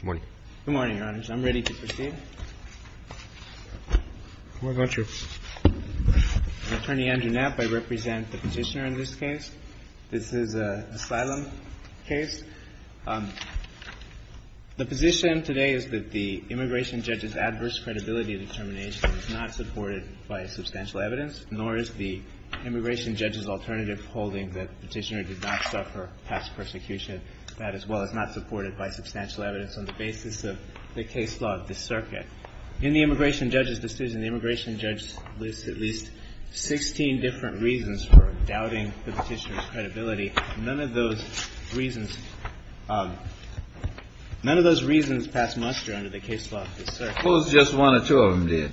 Good morning, Your Honors. I'm ready to proceed. Why not, sir? As Attorney Andrew Knapp, I represent the petitioner in this case. This is an asylum case. The position today is that the immigration judge's adverse credibility determination is not supported by substantial evidence, nor is the immigration judge's alternative holding that the petitioner did not suffer past persecution. That, as well, is not supported by substantial evidence on the basis of the case law of this circuit. In the immigration judge's decision, the immigration judge lists at least 16 different reasons for doubting the petitioner's credibility. None of those reasons passed muster under the case law of this circuit. Suppose just one or two of them did.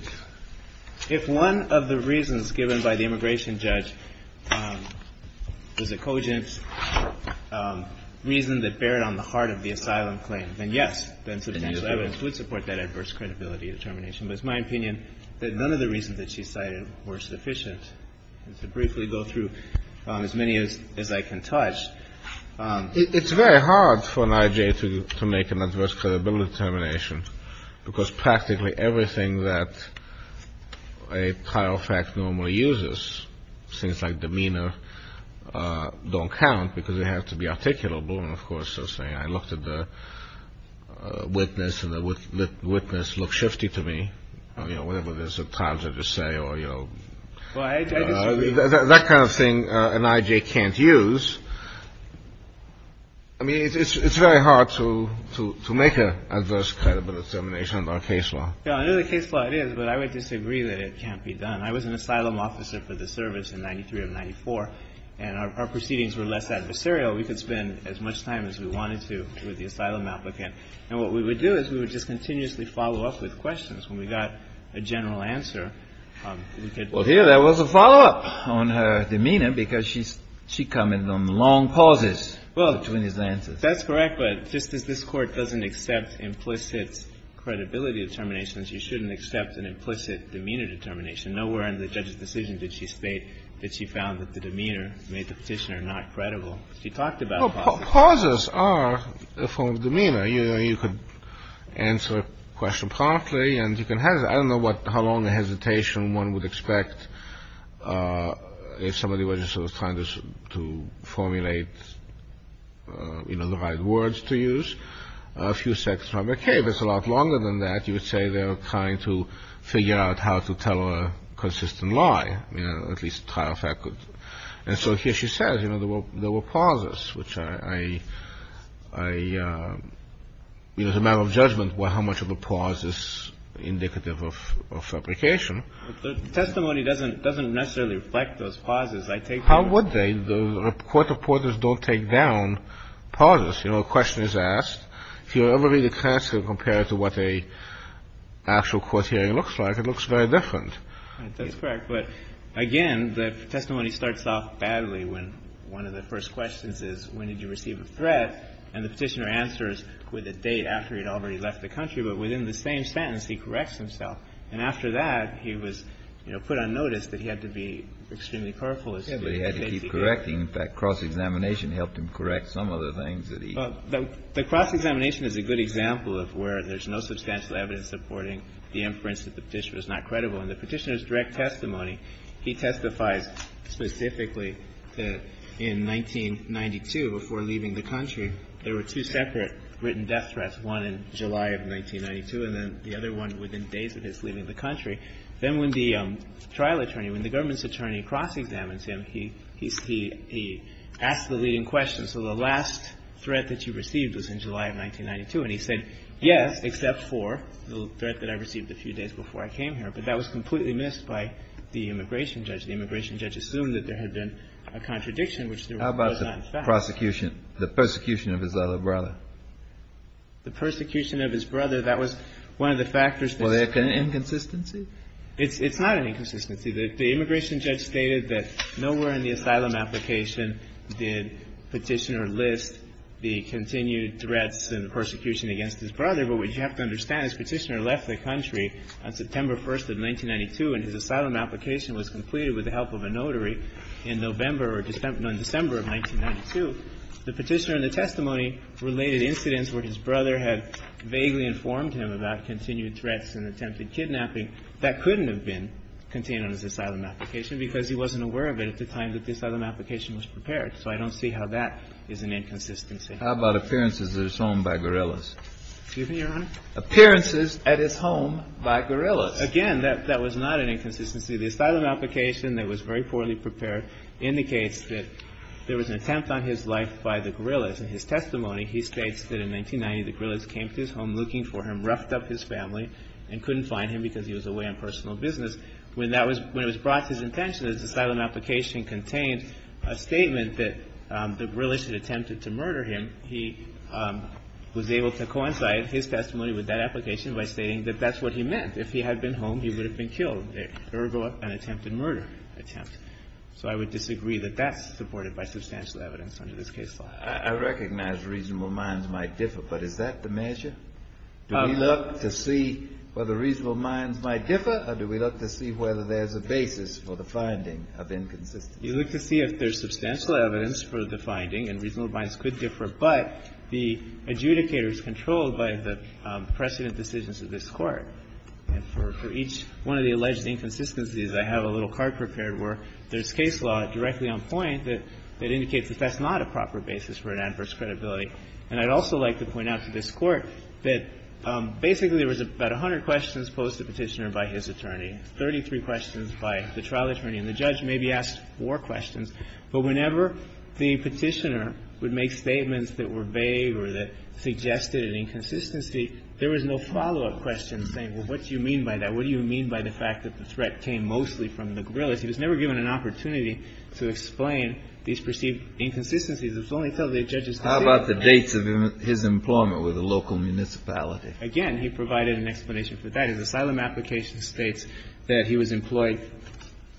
If one of the reasons given by the immigration judge is a cogent reason that bared on the heart of the asylum claim, then yes, substantial evidence would support that adverse credibility determination. But it's my opinion that none of the reasons that she cited were sufficient. To briefly go through as many as I can touch. It's very hard for an I.J. to make an adverse credibility determination because practically everything that a trial fact normally uses, things like demeanor, don't count because they have to be articulable. And, of course, they'll say I looked at the witness and the witness looked shifty to me, you know, whatever there's a time to just say or, you know. That kind of thing an I.J. can't use. I mean, it's very hard to make an adverse credibility determination under a case law. Yeah, under the case law it is, but I would disagree that it can't be done. I was an asylum officer for the service in 93 of 94, and our proceedings were less adversarial. We could spend as much time as we wanted to with the asylum applicant. And what we would do is we would just continuously follow up with questions. When we got a general answer, we could. Well, here there was a follow-up on her demeanor because she commented on long pauses between his answers. Well, that's correct, but just as this Court doesn't accept implicit credibility determinations, you shouldn't accept an implicit demeanor determination. Nowhere in the judge's decision did she state that she found that the demeanor made the petitioner not credible. She talked about pauses. Well, pauses are a form of demeanor. You know, you could answer a question promptly and you can hesitate. I don't know how long a hesitation one would expect if somebody were just sort of trying to formulate, you know, the right words to use. A few seconds from a case is a lot longer than that. You would say they were trying to figure out how to tell a consistent lie, you know, at least trial fact. And so here she says, you know, there were pauses, which I, you know, it's a matter of judgment how much of a pause is indicative of fabrication. But the testimony doesn't necessarily reflect those pauses. I take it as a question. How would they? Court reporters don't take down pauses. You know, a question is asked. If you ever read a transcript and compare it to what an actual court hearing looks like, it looks very different. That's correct. But, again, the testimony starts off badly when one of the first questions is when did you receive a threat, and the Petitioner answers with a date after he had already left the country. But within the same sentence, he corrects himself. And after that, he was, you know, put on notice that he had to be extremely careful as to what he had to do. Kennedy. But he had to keep correcting. In fact, cross-examination helped him correct some of the things that he. Well, the cross-examination is a good example of where there's no substantial evidence supporting the inference that the Petitioner was not credible. In the Petitioner's direct testimony, he testifies specifically that in 1992, before leaving the country, there were two separate written death threats. One in July of 1992, and then the other one within days of his leaving the country. Then when the trial attorney, when the government's attorney cross-examines him, he asks the leading question. So the last threat that you received was in July of 1992. And he said, yes, except for the threat that I received a few days before I came here. But that was completely missed by the immigration judge. The immigration judge assumed that there had been a contradiction, which there was not, in fact. The prosecution, the persecution of his other brother. The persecution of his brother, that was one of the factors. Was there an inconsistency? It's not an inconsistency. The immigration judge stated that nowhere in the asylum application did Petitioner list the continued threats and persecution against his brother. But what you have to understand is Petitioner left the country on September 1st of 1992, and his asylum application was completed with the help of a notary in November, no, in December of 1992. The Petitioner in the testimony related incidents where his brother had vaguely informed him about continued threats and attempted kidnapping that couldn't have been contained on his asylum application because he wasn't aware of it at the time that the asylum application was prepared. So I don't see how that is an inconsistency. Kennedy. How about appearances at his home by guerrillas? Excuse me, Your Honor? Appearances at his home by guerrillas. Again, that was not an inconsistency. The asylum application that was very poorly prepared indicates that there was an attempt on his life by the guerrillas. In his testimony, he states that in 1990 the guerrillas came to his home looking for him, roughed up his family, and couldn't find him because he was away on personal business. When it was brought to his attention that his asylum application contained a statement that the guerrillas had attempted to murder him, he was able to coincide his testimony with that application by stating that that's what he meant. If he had been home, he would have been killed. Ergo, an attempted murder attempt. So I would disagree that that's supported by substantial evidence under this case law. I recognize reasonable minds might differ, but is that the measure? Do we look to see whether reasonable minds might differ, or do we look to see whether there's a basis for the finding of inconsistency? You look to see if there's substantial evidence for the finding, and reasonable minds could differ. But the adjudicator is controlled by the precedent decisions of this Court. And for each one of the alleged inconsistencies, I have a little card prepared where there's case law directly on point that indicates that that's not a proper basis for an adverse credibility. And I'd also like to point out to this Court that basically there was about 100 questions posed to the Petitioner by his attorney, 33 questions by the trial attorney, and the judge maybe asked more questions. But whenever the Petitioner would make statements that were vague or that suggested an inconsistency, there was no follow-up question saying, well, what do you mean by that? What do you mean by the fact that the threat came mostly from the guerrillas? He was never given an opportunity to explain these perceived inconsistencies. It was only until the judge's decision. How about the dates of his employment with the local municipality? Again, he provided an explanation for that. His asylum application states that he was employed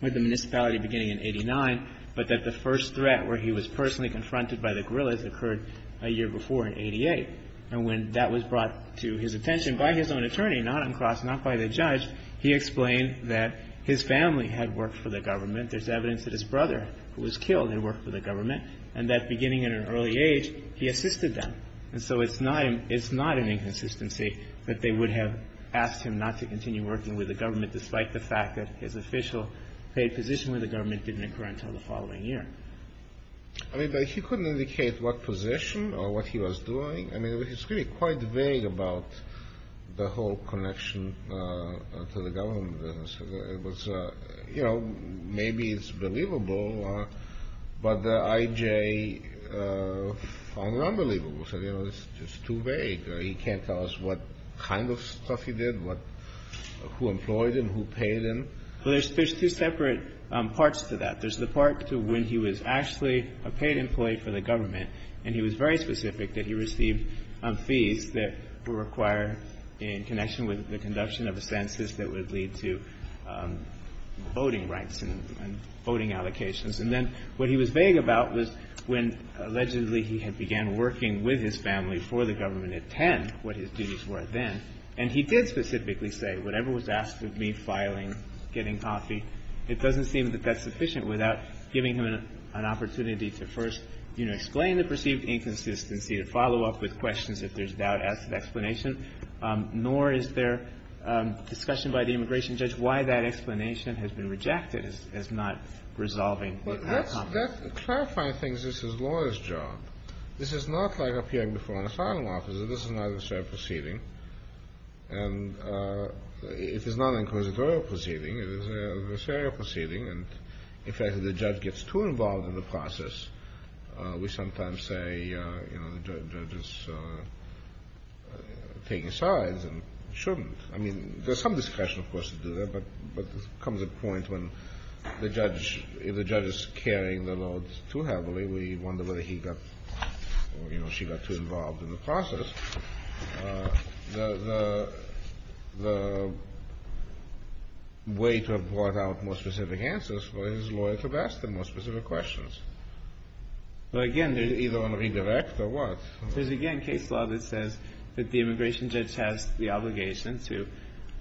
with the municipality beginning in 89, but that the first threat where he was personally confronted by the guerrillas occurred a year before, in 88. And when that was brought to his attention by his own attorney, not on cross, not by the judge, he explained that his family had worked for the government. There's evidence that his brother, who was killed, had worked for the government, and that beginning at an early age, he assisted them. And so it's not an inconsistency that they would have asked him not to continue working with the government, despite the fact that his official position with the government didn't occur until the following year. I mean, but he couldn't indicate what position or what he was doing. I mean, it's really quite vague about the whole connection to the government. It was, you know, maybe it's believable, but the I.J. found it unbelievable. So, you know, it's just too vague. He can't tell us what kind of stuff he did, who employed him, who paid him. Well, there's two separate parts to that. There's the part to when he was actually a paid employee for the government, and he was very specific that he received fees that were required in connection with the conduction of a census that would lead to voting rights and voting allocations. And then what he was vague about was when allegedly he had began working with his family for the government at 10, what his duties were then. And he did specifically say, whatever was asked of me, filing, getting coffee, it doesn't seem that that's sufficient without giving him an opportunity to first, you know, explain the perceived inconsistency, to follow up with questions if there's doubt as to the explanation. Nor is there discussion by the immigration judge why that explanation has been rejected as not resolving the economy. But that's the clarifying thing is this is a lawyer's job. This is not like appearing before an asylum officer. This is not a fair proceeding. And it is not an inquisitorial proceeding. It is a fair proceeding. And in fact, if the judge gets too involved in the process, we sometimes say, you know, the judge is taking sides and shouldn't. I mean, there's some discussion, of course, to do that. But there comes a point when the judge, if the judge is carrying the load too heavily, we wonder whether he got or, you know, she got too involved in the process. The way to have brought out more specific answers for his lawyers would have asked them more specific questions. Either on redirect or what? There's, again, case law that says that the immigration judge has the obligation to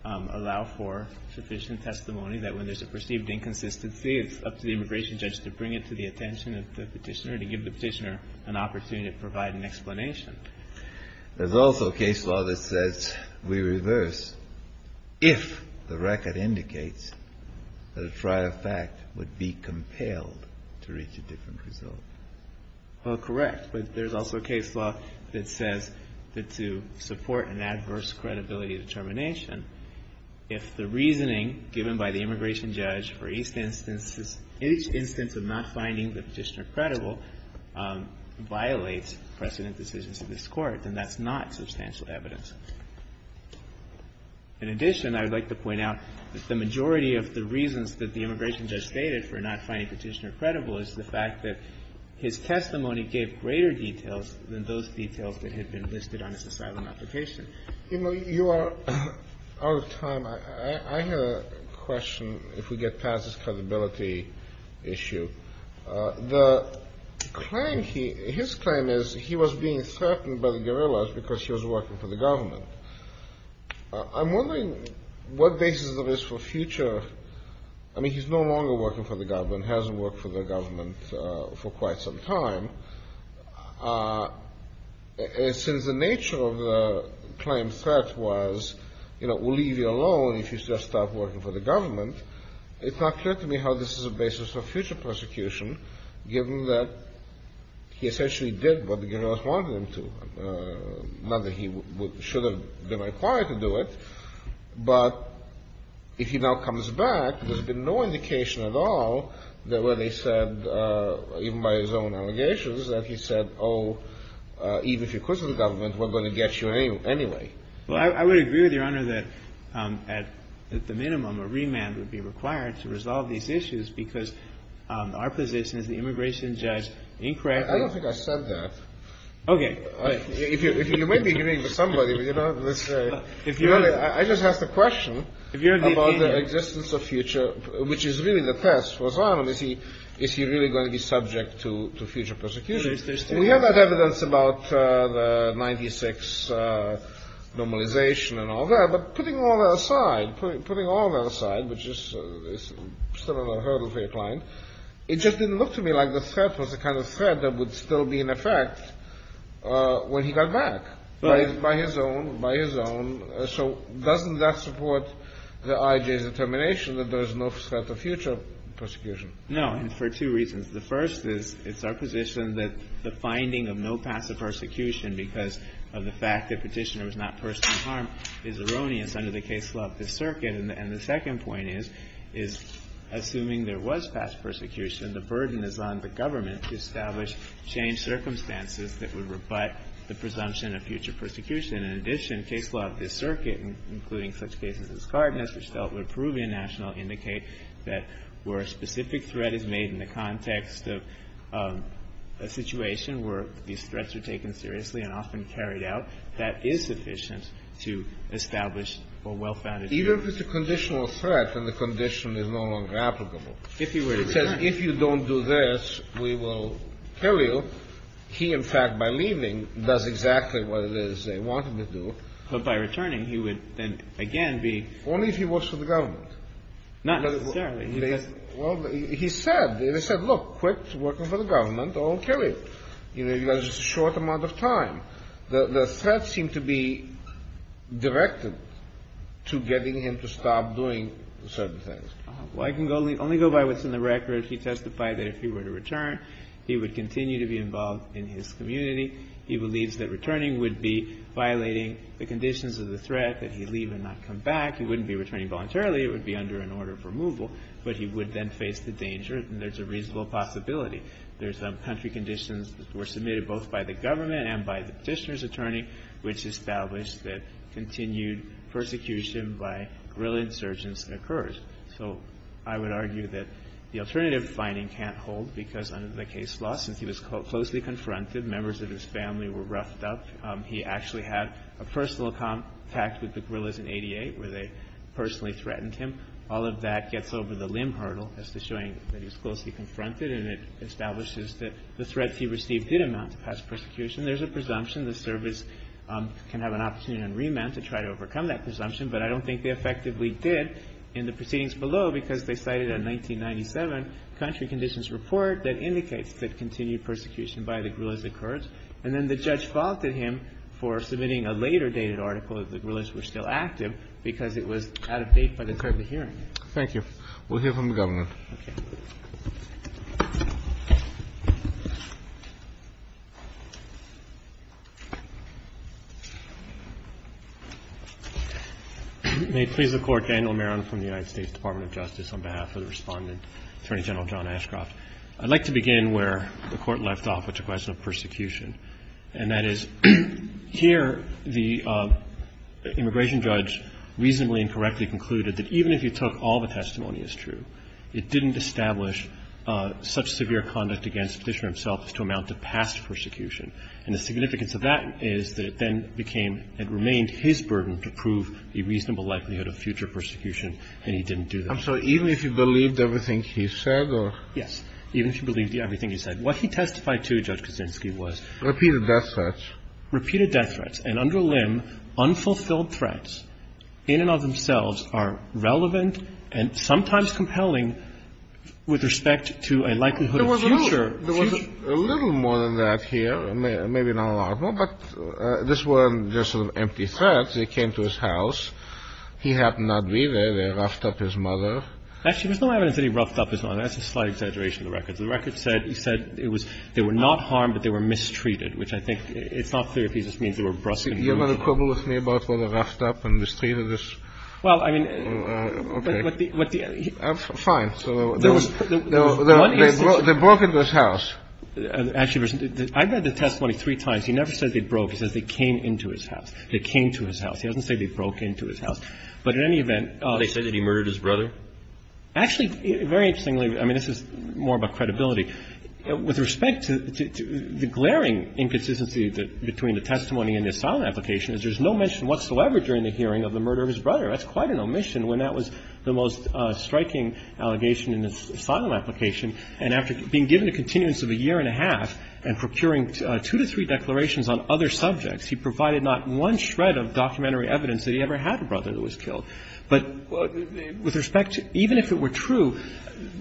allow for sufficient testimony that when there's a perceived inconsistency, it's up to the immigration judge to bring it to the attention of the Petitioner and to give the Petitioner an opportunity to provide an explanation. There's also case law that says we reverse if the record indicates that a prior fact would be compelled to reach a different result. Well, correct. But there's also case law that says that to support an adverse credibility determination, if the reasoning given by the immigration judge for each instance of not finding the Petitioner credible violates precedent decisions of this Court, then that's not substantial evidence. In addition, I would like to point out that the majority of the reasons that the immigration judge stated for not finding Petitioner credible is the fact that his testimony gave greater details than those details that had been listed on his asylum application. You know, you are out of time. I have a question, if we get past this credibility issue. The claim, his claim is he was being threatened by the guerrillas because he was working for the government. I'm wondering what basis there is for future, I mean, he's no longer working for the government, hasn't worked for the government for quite some time. Since the nature of the claim threat was, you know, we'll leave you alone if you just stop working for the government, it's not clear to me how this is a basis for future prosecution, given that he essentially did what the guerrillas wanted him to, not that he should have been required to do it. But if he now comes back, there's been no indication at all that where they said, even by his own allegations, that he said, oh, even if you're close to the government, we're going to get you anyway. Well, I would agree with Your Honor that at the minimum, a remand would be required to resolve these issues because our position as the immigration judge incorrectly I don't think I said that. Okay. If you may be agreeing with somebody, but you know, let's say, I just asked a question about the existence of future, which is really the test for asylum, is he really going to be subject to future prosecution? We have that evidence about the 96 normalization and all that, but putting all that aside, putting all that aside, which is still a hurdle for your client, it just didn't look to me like the threat was the kind of threat that would still be in effect when he got back by his own, by his own. So doesn't that support the IJ's determination that there is no threat of future prosecution? No. And for two reasons. The first is, it's our position that the finding of no passive persecution because of the fact that Petitioner was not personally harmed is erroneous under the case law of this circuit. And the second point is, is assuming there was passive persecution, the burden is on the government to establish changed circumstances that would rebut the presumption of future persecution. In addition, case law of this circuit, including such cases as Cardenas, which dealt with Peruvian nationals, indicate that where a specific threat is made in the context of a situation where these threats are taken seriously and often carried out, that is sufficient to establish a well-founded condition. Even if it's a conditional threat and the condition is no longer applicable. If he were to return. It says, if you don't do this, we will kill you. He, in fact, by leaving, does exactly what it is they want him to do. But by returning, he would then again be. Only if he works for the government. Not necessarily. Well, he said. They said, look, quit working for the government or we'll kill you. You know, because it's a short amount of time. The threats seem to be directed to getting him to stop doing certain things. Well, I can only go by what's in the record. He testified that if he were to return, he would continue to be involved in his community. He believes that returning would be violating the conditions of the threat, that he leave and not come back. He wouldn't be returning voluntarily. It would be under an order of removal. But he would then face the danger. And there's a reasonable possibility. There's country conditions that were submitted both by the government and by the Petitioner's attorney, which established that continued persecution by guerrilla insurgents occurs. So I would argue that the alternative finding can't hold because under the case law, since he was closely confronted, members of his family were roughed up. He actually had a personal contact with the guerrillas in 88 where they personally threatened him. All of that gets over the limb hurdle as to showing that he was closely confronted and it establishes that the threats he received did amount to past persecution. There's a presumption the service can have an opportunity on remand to try to overcome that presumption. But I don't think they effectively did in the proceedings below because they cited a 1997 country conditions report that indicates that continued persecution by the guerrillas occurs. And then the judge faulted him for submitting a later dated article that the guerrillas were still active because it was out of date by the time of the hearing. Thank you. We'll hear from the government. Okay. May it please the Court. Daniel Maron from the United States Department of Justice on behalf of the Respondent, Attorney General John Ashcroft. I'd like to begin where the Court left off with the question of persecution. And that is, here the immigration judge reasonably and correctly concluded that even if he took all the testimony as true, it didn't establish such severe conduct against the Petitioner himself as to amount to past persecution. And the significance of that is that it then became and remained his burden to prove the reasonable likelihood of future persecution, and he didn't do that. I'm sorry. Even if he believed everything he said, or? Yes. Even if he believed everything he said. What he testified to, Judge Kaczynski, was. Repeated death threats. Repeated death threats. And under limb, unfulfilled threats in and of themselves are relevant and sometimes compelling with respect to a likelihood of future. There was a little more than that here. Maybe not a lot more, but this were just sort of empty threats. They came to his house. He happened not to be there. They roughed up his mother. Actually, there's no evidence that he roughed up his mother. That's a slight exaggeration of the records. The records said he said it was they were not harmed, but they were mistreated, which I think it's not clear if he just means they were brusque. You're going to quibble with me about whether roughed up and mistreated is? Well, I mean. Okay. Fine. There was. They broke into his house. Actually, I read the testimony three times. He never said they broke. He says they came into his house. They came to his house. He doesn't say they broke into his house. But in any event. They said that he murdered his brother? Actually, very interestingly. I mean, this is more about credibility. With respect to the glaring inconsistency between the testimony and the asylum application is there's no mention whatsoever during the hearing of the murder of his brother. That's quite an omission when that was the most striking allegation in this asylum application. And after being given a continuance of a year and a half and procuring two to three declarations on other subjects, he provided not one shred of documentary evidence that he ever had a brother that was killed. But with respect to even if it were true,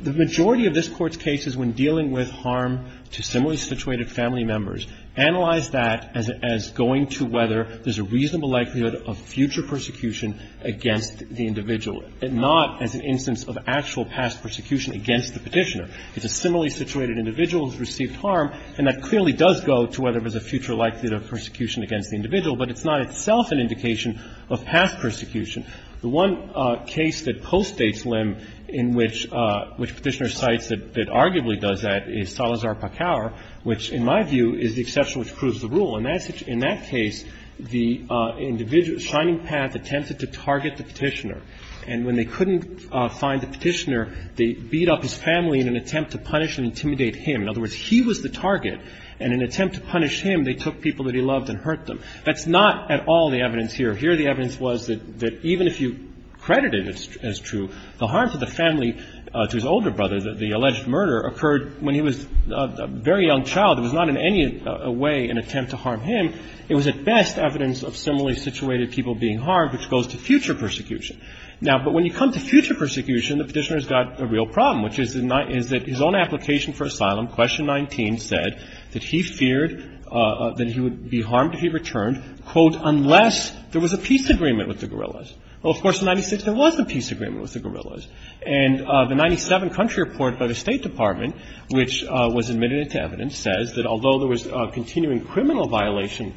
the majority of this Court's cases when dealing with harm to similarly situated family members, analyze that as going to whether there's a reasonable likelihood of future persecution against the individual, not as an instance of actual past persecution against the Petitioner. It's a similarly situated individual who has received harm, and that clearly does go to whether there's a future likelihood of persecution against the individual, but it's not itself an indication of past persecution. The one case that postdates Lim in which Petitioner cites that arguably does that is Salazar-Pakower, which in my view is the exception which proves the rule. And in that case, the individual, Shining Path, attempted to target the Petitioner, and when they couldn't find the Petitioner, they beat up his family in an attempt to punish and intimidate him. In other words, he was the target, and in an attempt to punish him, they took people that he loved and hurt them. That's not at all the evidence here. Here the evidence was that even if you credit it as true, the harm to the family, to his older brother, the alleged murder, occurred when he was a very young child. It was not in any way an attempt to harm him. It was at best evidence of similarly situated people being harmed, which goes to future persecution. Now, but when you come to future persecution, the Petitioner's got a real problem, which is that his own application for asylum, Question 19, said that he feared that he would be harmed if he returned, quote, unless there was a peace agreement with the guerrillas. Well, of course, in 1996, there was a peace agreement with the guerrillas. And the 1997 country report by the State Department, which was admitted into evidence, says that although there was continuing criminal violation,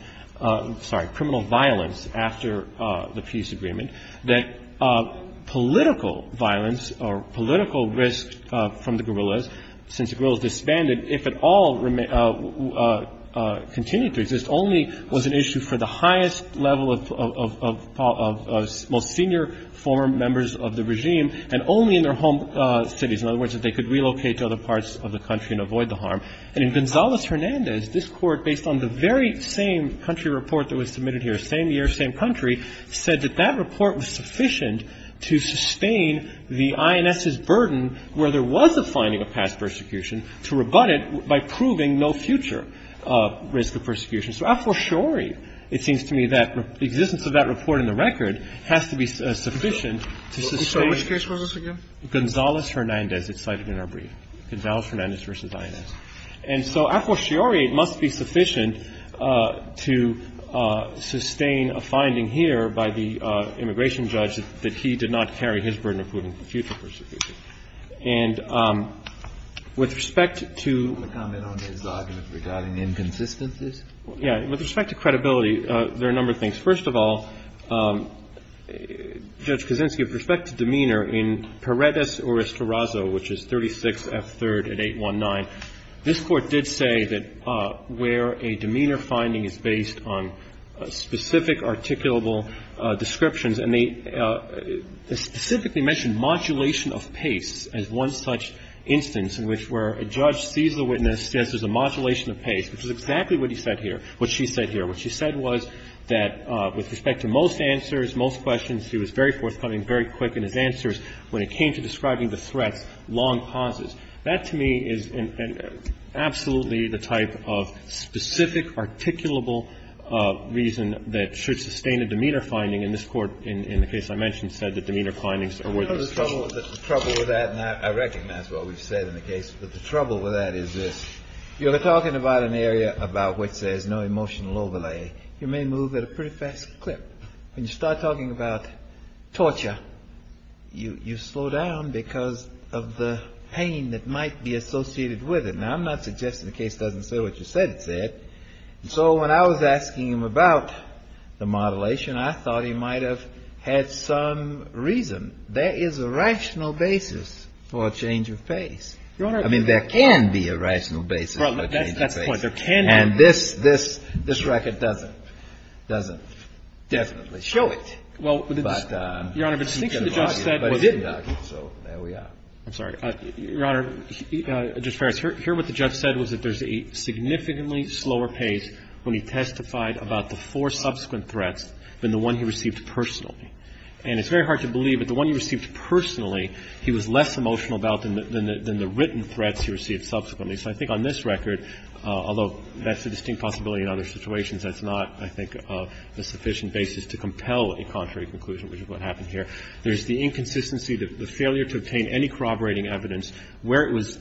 sorry, criminal violence after the peace agreement, that political violence or political risk from the guerrillas since the guerrillas disbanded, if at all continued to exist, only was an issue for the highest level of most senior former members of the regime and only in their home cities. In other words, that they could relocate to other parts of the country and avoid the harm. And in Gonzales-Hernandez, this Court, based on the very same country report that was submitted here, same year, same country, said that that report was sufficient to sustain the INS's burden where there was a finding of past persecution, to rebut it by proving no future risk of persecution. So a fortiori, it seems to me, that the existence of that report in the record has to be sufficient to sustain the case. So which case was this again? Katyal. Gonzales-Hernandez. It's cited in our brief. Gonzales-Hernandez v. INS. And so a fortiori, it must be sufficient to sustain a finding here by the immigration judge that he did not carry his burden of proving future persecution. And with respect to the argument regarding inconsistencies? Yeah. With respect to credibility, there are a number of things. First of all, Judge Kaczynski, with respect to demeanor, in Paredes or Estorazo, which is 36F3rd at 819, this Court did say that where a demeanor finding is based on specific articulable descriptions, and they specifically mentioned modulation of pace as one such instance in which where a judge sees the witness, says there's a modulation of pace, which is exactly what he said here, what she said here. What she said was that with respect to most answers, most questions, he was very forthcoming, very quick in his answers. When it came to describing the threats, long pauses. That, to me, is absolutely the type of specific articulable reason that should sustain a demeanor finding. And this Court, in the case I mentioned, said that demeanor findings are worthless. The trouble with that, and I recognize what we've said in the case, but the trouble with that is this. You're talking about an area about which there's no emotional overlay. You may move at a pretty fast clip. But when you start talking about torture, you slow down because of the pain that might be associated with it. Now, I'm not suggesting the case doesn't say what you said it said. So when I was asking him about the modulation, I thought he might have had some reason. There is a rational basis for a change of pace. I mean, there can be a rational basis for a change of pace. And this record doesn't. It doesn't definitely show it. But he did argue. So there we are. I'm sorry. Your Honor, Justice Ferris, here what the judge said was that there's a significantly slower pace when he testified about the four subsequent threats than the one he received personally. And it's very hard to believe that the one he received personally, he was less emotional about than the written threats he received subsequently. So I think on this record, although that's a distinct possibility in other situations, that's not, I think, a sufficient basis to compel a contrary conclusion, which is what happened here. There's the inconsistency, the failure to obtain any corroborating evidence, where it was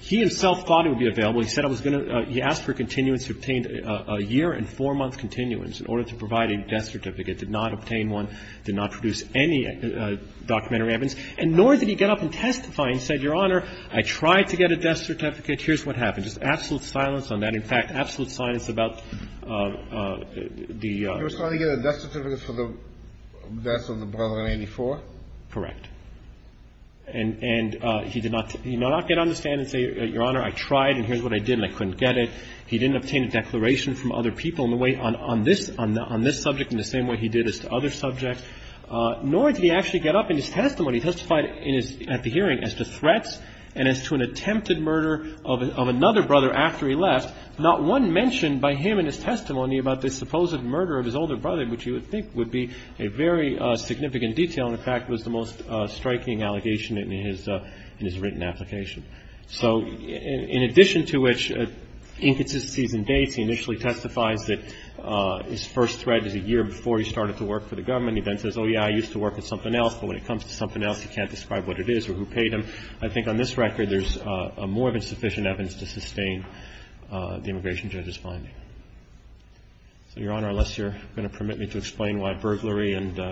he himself thought it would be available. He said it was going to he asked for continuance. He obtained a year and four-month continuance in order to provide a death certificate, did not obtain one, did not produce any documentary evidence, and nor did he get up and testify and said, Your Honor, I tried to get a death certificate. Here's what happened. Just absolute silence on that. In fact, absolute silence about the — You were trying to get a death certificate for the death of the brother in 84? Correct. And he did not get on the stand and say, Your Honor, I tried, and here's what I did, and I couldn't get it. He didn't obtain a declaration from other people in the way on this subject in the same way he did as to other subjects, nor did he actually get up in his testimony, testified at the hearing as to threats and as to an attempted murder of another brother after he left. Not one mentioned by him in his testimony about the supposed murder of his older brother, which you would think would be a very significant detail. In fact, it was the most striking allegation in his written application. So in addition to which inconsistencies in dates, he initially testifies that his first threat is a year before he started to work for the government. And he then says, oh, yeah, I used to work at something else, but when it comes to something else, he can't describe what it is or who paid him. I think on this record, there's more than sufficient evidence to sustain the immigration judge's finding. So, Your Honor, unless you're going to permit me to explain why burglary and —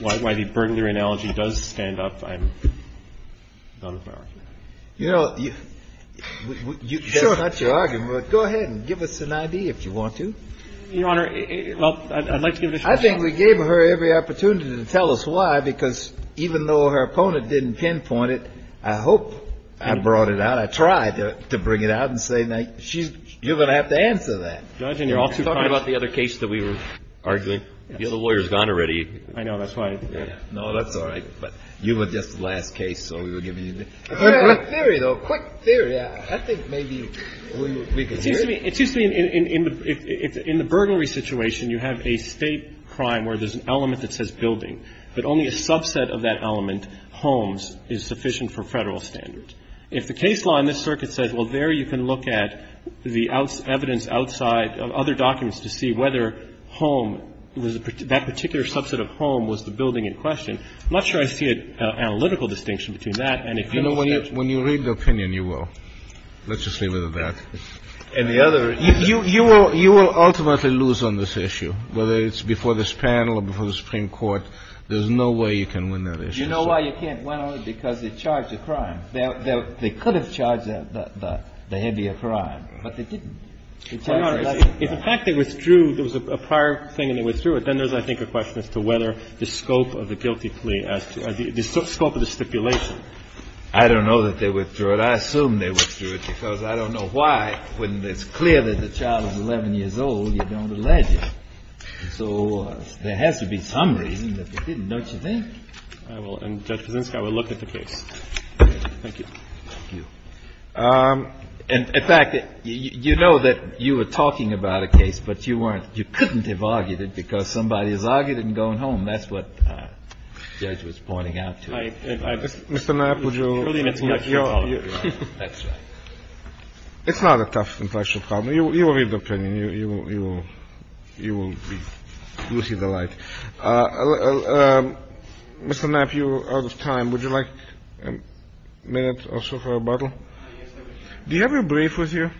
why the burglary analogy does stand up, I'm done with my argument. You know, you — Sure. That's not your argument, but go ahead and give us an idea if you want to. Your Honor, well, I'd like to give it a shot. I think we gave her every opportunity to tell us why, because even though her opponent didn't pinpoint it, I hope I brought it out. I tried to bring it out and say, now, she's — you're going to have to answer that. Judge, and you're also talking about the other case that we were arguing. The other lawyer's gone already. I know. That's why. No, that's all right. But you were just the last case, so we were giving you the — A quick theory, though. A quick theory. I think maybe we could hear it. It seems to me — it seems to me in the — in the burglary situation, you have a State crime where there's an element that says building, but only a subset of that element, homes, is sufficient for Federal standards. If the case law in this circuit says, well, there you can look at the evidence outside of other documents to see whether home was — that particular subset of home was the building in question, I'm not sure I see an analytical distinction between that and a criminal statute. You know, when you — when you read the opinion, you will. Let's just leave it at that. And the other — You — you will — you will ultimately lose on this issue, whether it's before this panel or before the Supreme Court. There's no way you can win that issue. You know why you can't win on it? Because they charged a crime. They could have charged the heavy a crime, but they didn't. It's a fact they withdrew. There was a prior thing and they withdrew it. Then there's, I think, a question as to whether the scope of the guilty plea as to — I don't know that they withdrew it. I assume they withdrew it because I don't know why, when it's clear that the child is 11 years old, you don't allege it. So there has to be some reason that they didn't, don't you think? I will. And, Judge Kaczynski, I will look at the case. Thank you. Thank you. And, in fact, you know that you were talking about a case, but you weren't — you couldn't have argued it because somebody has argued it and gone home. That's what the judge was pointing out to you. It's not a tough impression problem. You will read the opinion. You will see the light. Mr. Knapp, you are out of time. Would you like a minute or so for a bottle? Do you have your brief with you? I do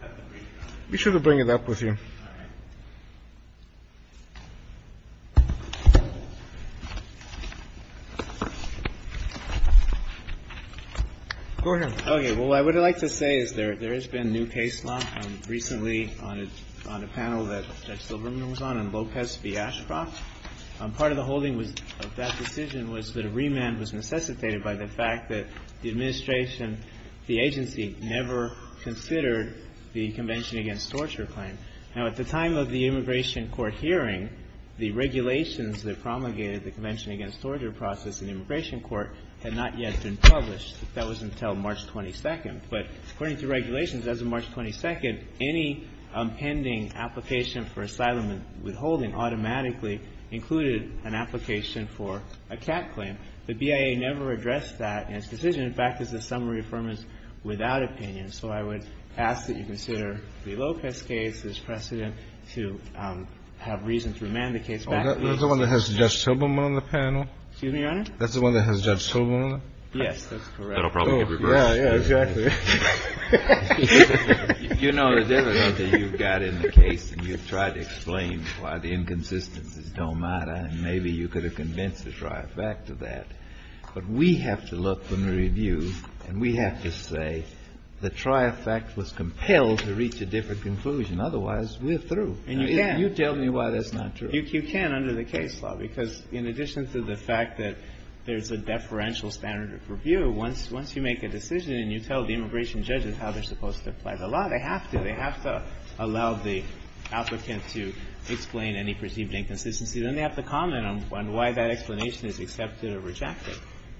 have the brief. We should have brought it up with you. All right. Go ahead. Okay. Well, what I would like to say is there has been new case law recently on a panel that Judge Silverman was on, on Lopez v. Ashcroft. Part of the holding of that decision was that a remand was necessitated by the fact that the administration, the agency, never considered the Convention Against Torture claim. Now, at the time of the immigration court hearing, the regulations that promulgated the Convention Against Torture process in the immigration court had not yet been published. That was until March 22nd. But according to regulations, as of March 22nd, any pending application for asylum and withholding automatically included an application for a CAT claim. The BIA never addressed that in its decision. In fact, it's a summary affirmance without opinion. So I would ask that you consider the Lopez case as precedent to have reason to remand the case back to the agency. Oh, that's the one that has Judge Silverman on the panel? Excuse me, Your Honor? That's the one that has Judge Silverman on it? Yes, that's correct. That'll probably get reversed. Yeah, yeah, exactly. If you know the difference that you've got in the case and you've tried to explain why the inconsistencies don't matter, and maybe you could have convinced us right back to that. But we have to look in the review and we have to say the tri-effect was compelled to reach a different conclusion. Otherwise, we're through. And you can't. You tell me why that's not true. You can under the case law. Because in addition to the fact that there's a deferential standard of review, once you make a decision and you tell the immigration judges how they're supposed to apply the law, they have to. They have to allow the applicant to explain any perceived inconsistency. Then they have to comment on why that explanation is accepted or rejected.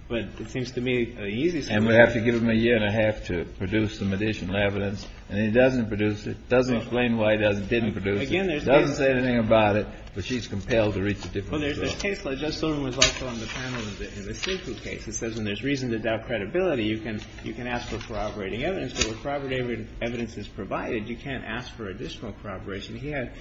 But it seems to me an easy solution. And we have to give him a year and a half to produce some additional evidence. And he doesn't produce it, doesn't explain why he didn't produce it, doesn't say anything about it. But she's compelled to reach a different conclusion. Well, there's a case law. Judge Silverman was also on the panel in the Cinco case. It says when there's reason to doubt credibility, you can ask for corroborating evidence. But when corroborating evidence is provided, you can't ask for additional corroboration. He had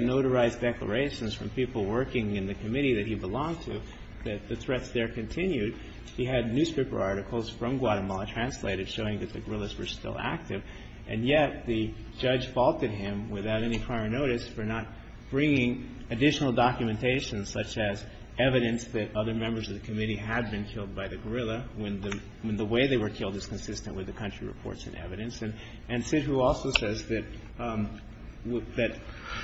notarized declarations from people working in the committee that he belonged to that the threats there continued. He had newspaper articles from Guatemala translated showing that the guerrillas were still active. And yet the judge faulted him without any prior notice for not bringing additional documentation such as evidence that other members of the committee had been killed by the guerrilla when the way they were killed is consistent with the country reports and evidence. And Sidhu also says that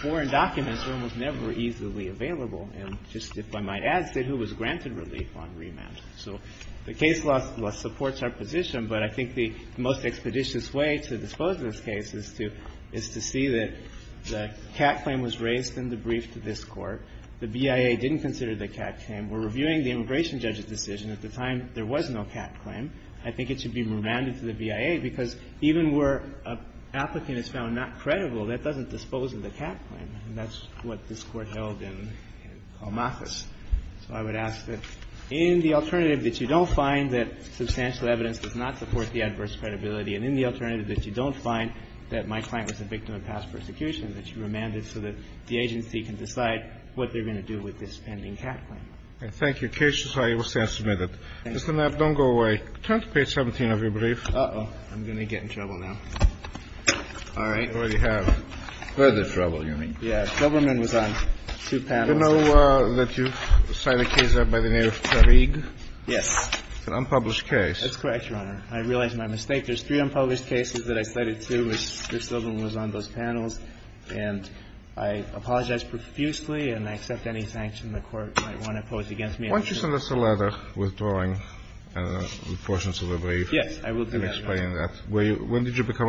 foreign documents were almost never easily available. And just if I might add, Sidhu was granted relief on remand. So the case law supports our position, but I think the most expeditious way to dispose of this case is to see that the CAT claim was raised in the brief to this Court. The BIA didn't consider the CAT claim. We're reviewing the immigration judge's decision. At the time, there was no CAT claim. I think it should be remanded to the BIA, because even where an applicant is found not credible, that doesn't dispose of the CAT claim. And that's what this Court held in Colmathus. So I would ask that in the alternative that you don't find that substantial evidence does not support the adverse credibility, and in the alternative that you don't find that my client was a victim of past persecution, that you remand it so that the agency can decide what they're going to do with this pending CAT claim. Thank you. And thank you, Case Society. We'll stand submitted. Mr. Knapp, don't go away. Turn to page 17 of your brief. Uh-oh. I'm going to get in trouble now. All right. You already have further trouble, you mean. Yeah. Silberman was on two panels. Do you know that you've cited a case by the name of Tarig? Yes. An unpublished case. That's correct, Your Honor. I realize my mistake. There's three unpublished cases that I cited, too, which Mr. Silberman was on those panels. And I apologize profusely and I accept any sanction the Court might want to pose against me. Why don't you send us a letter withdrawing portions of the brief and explaining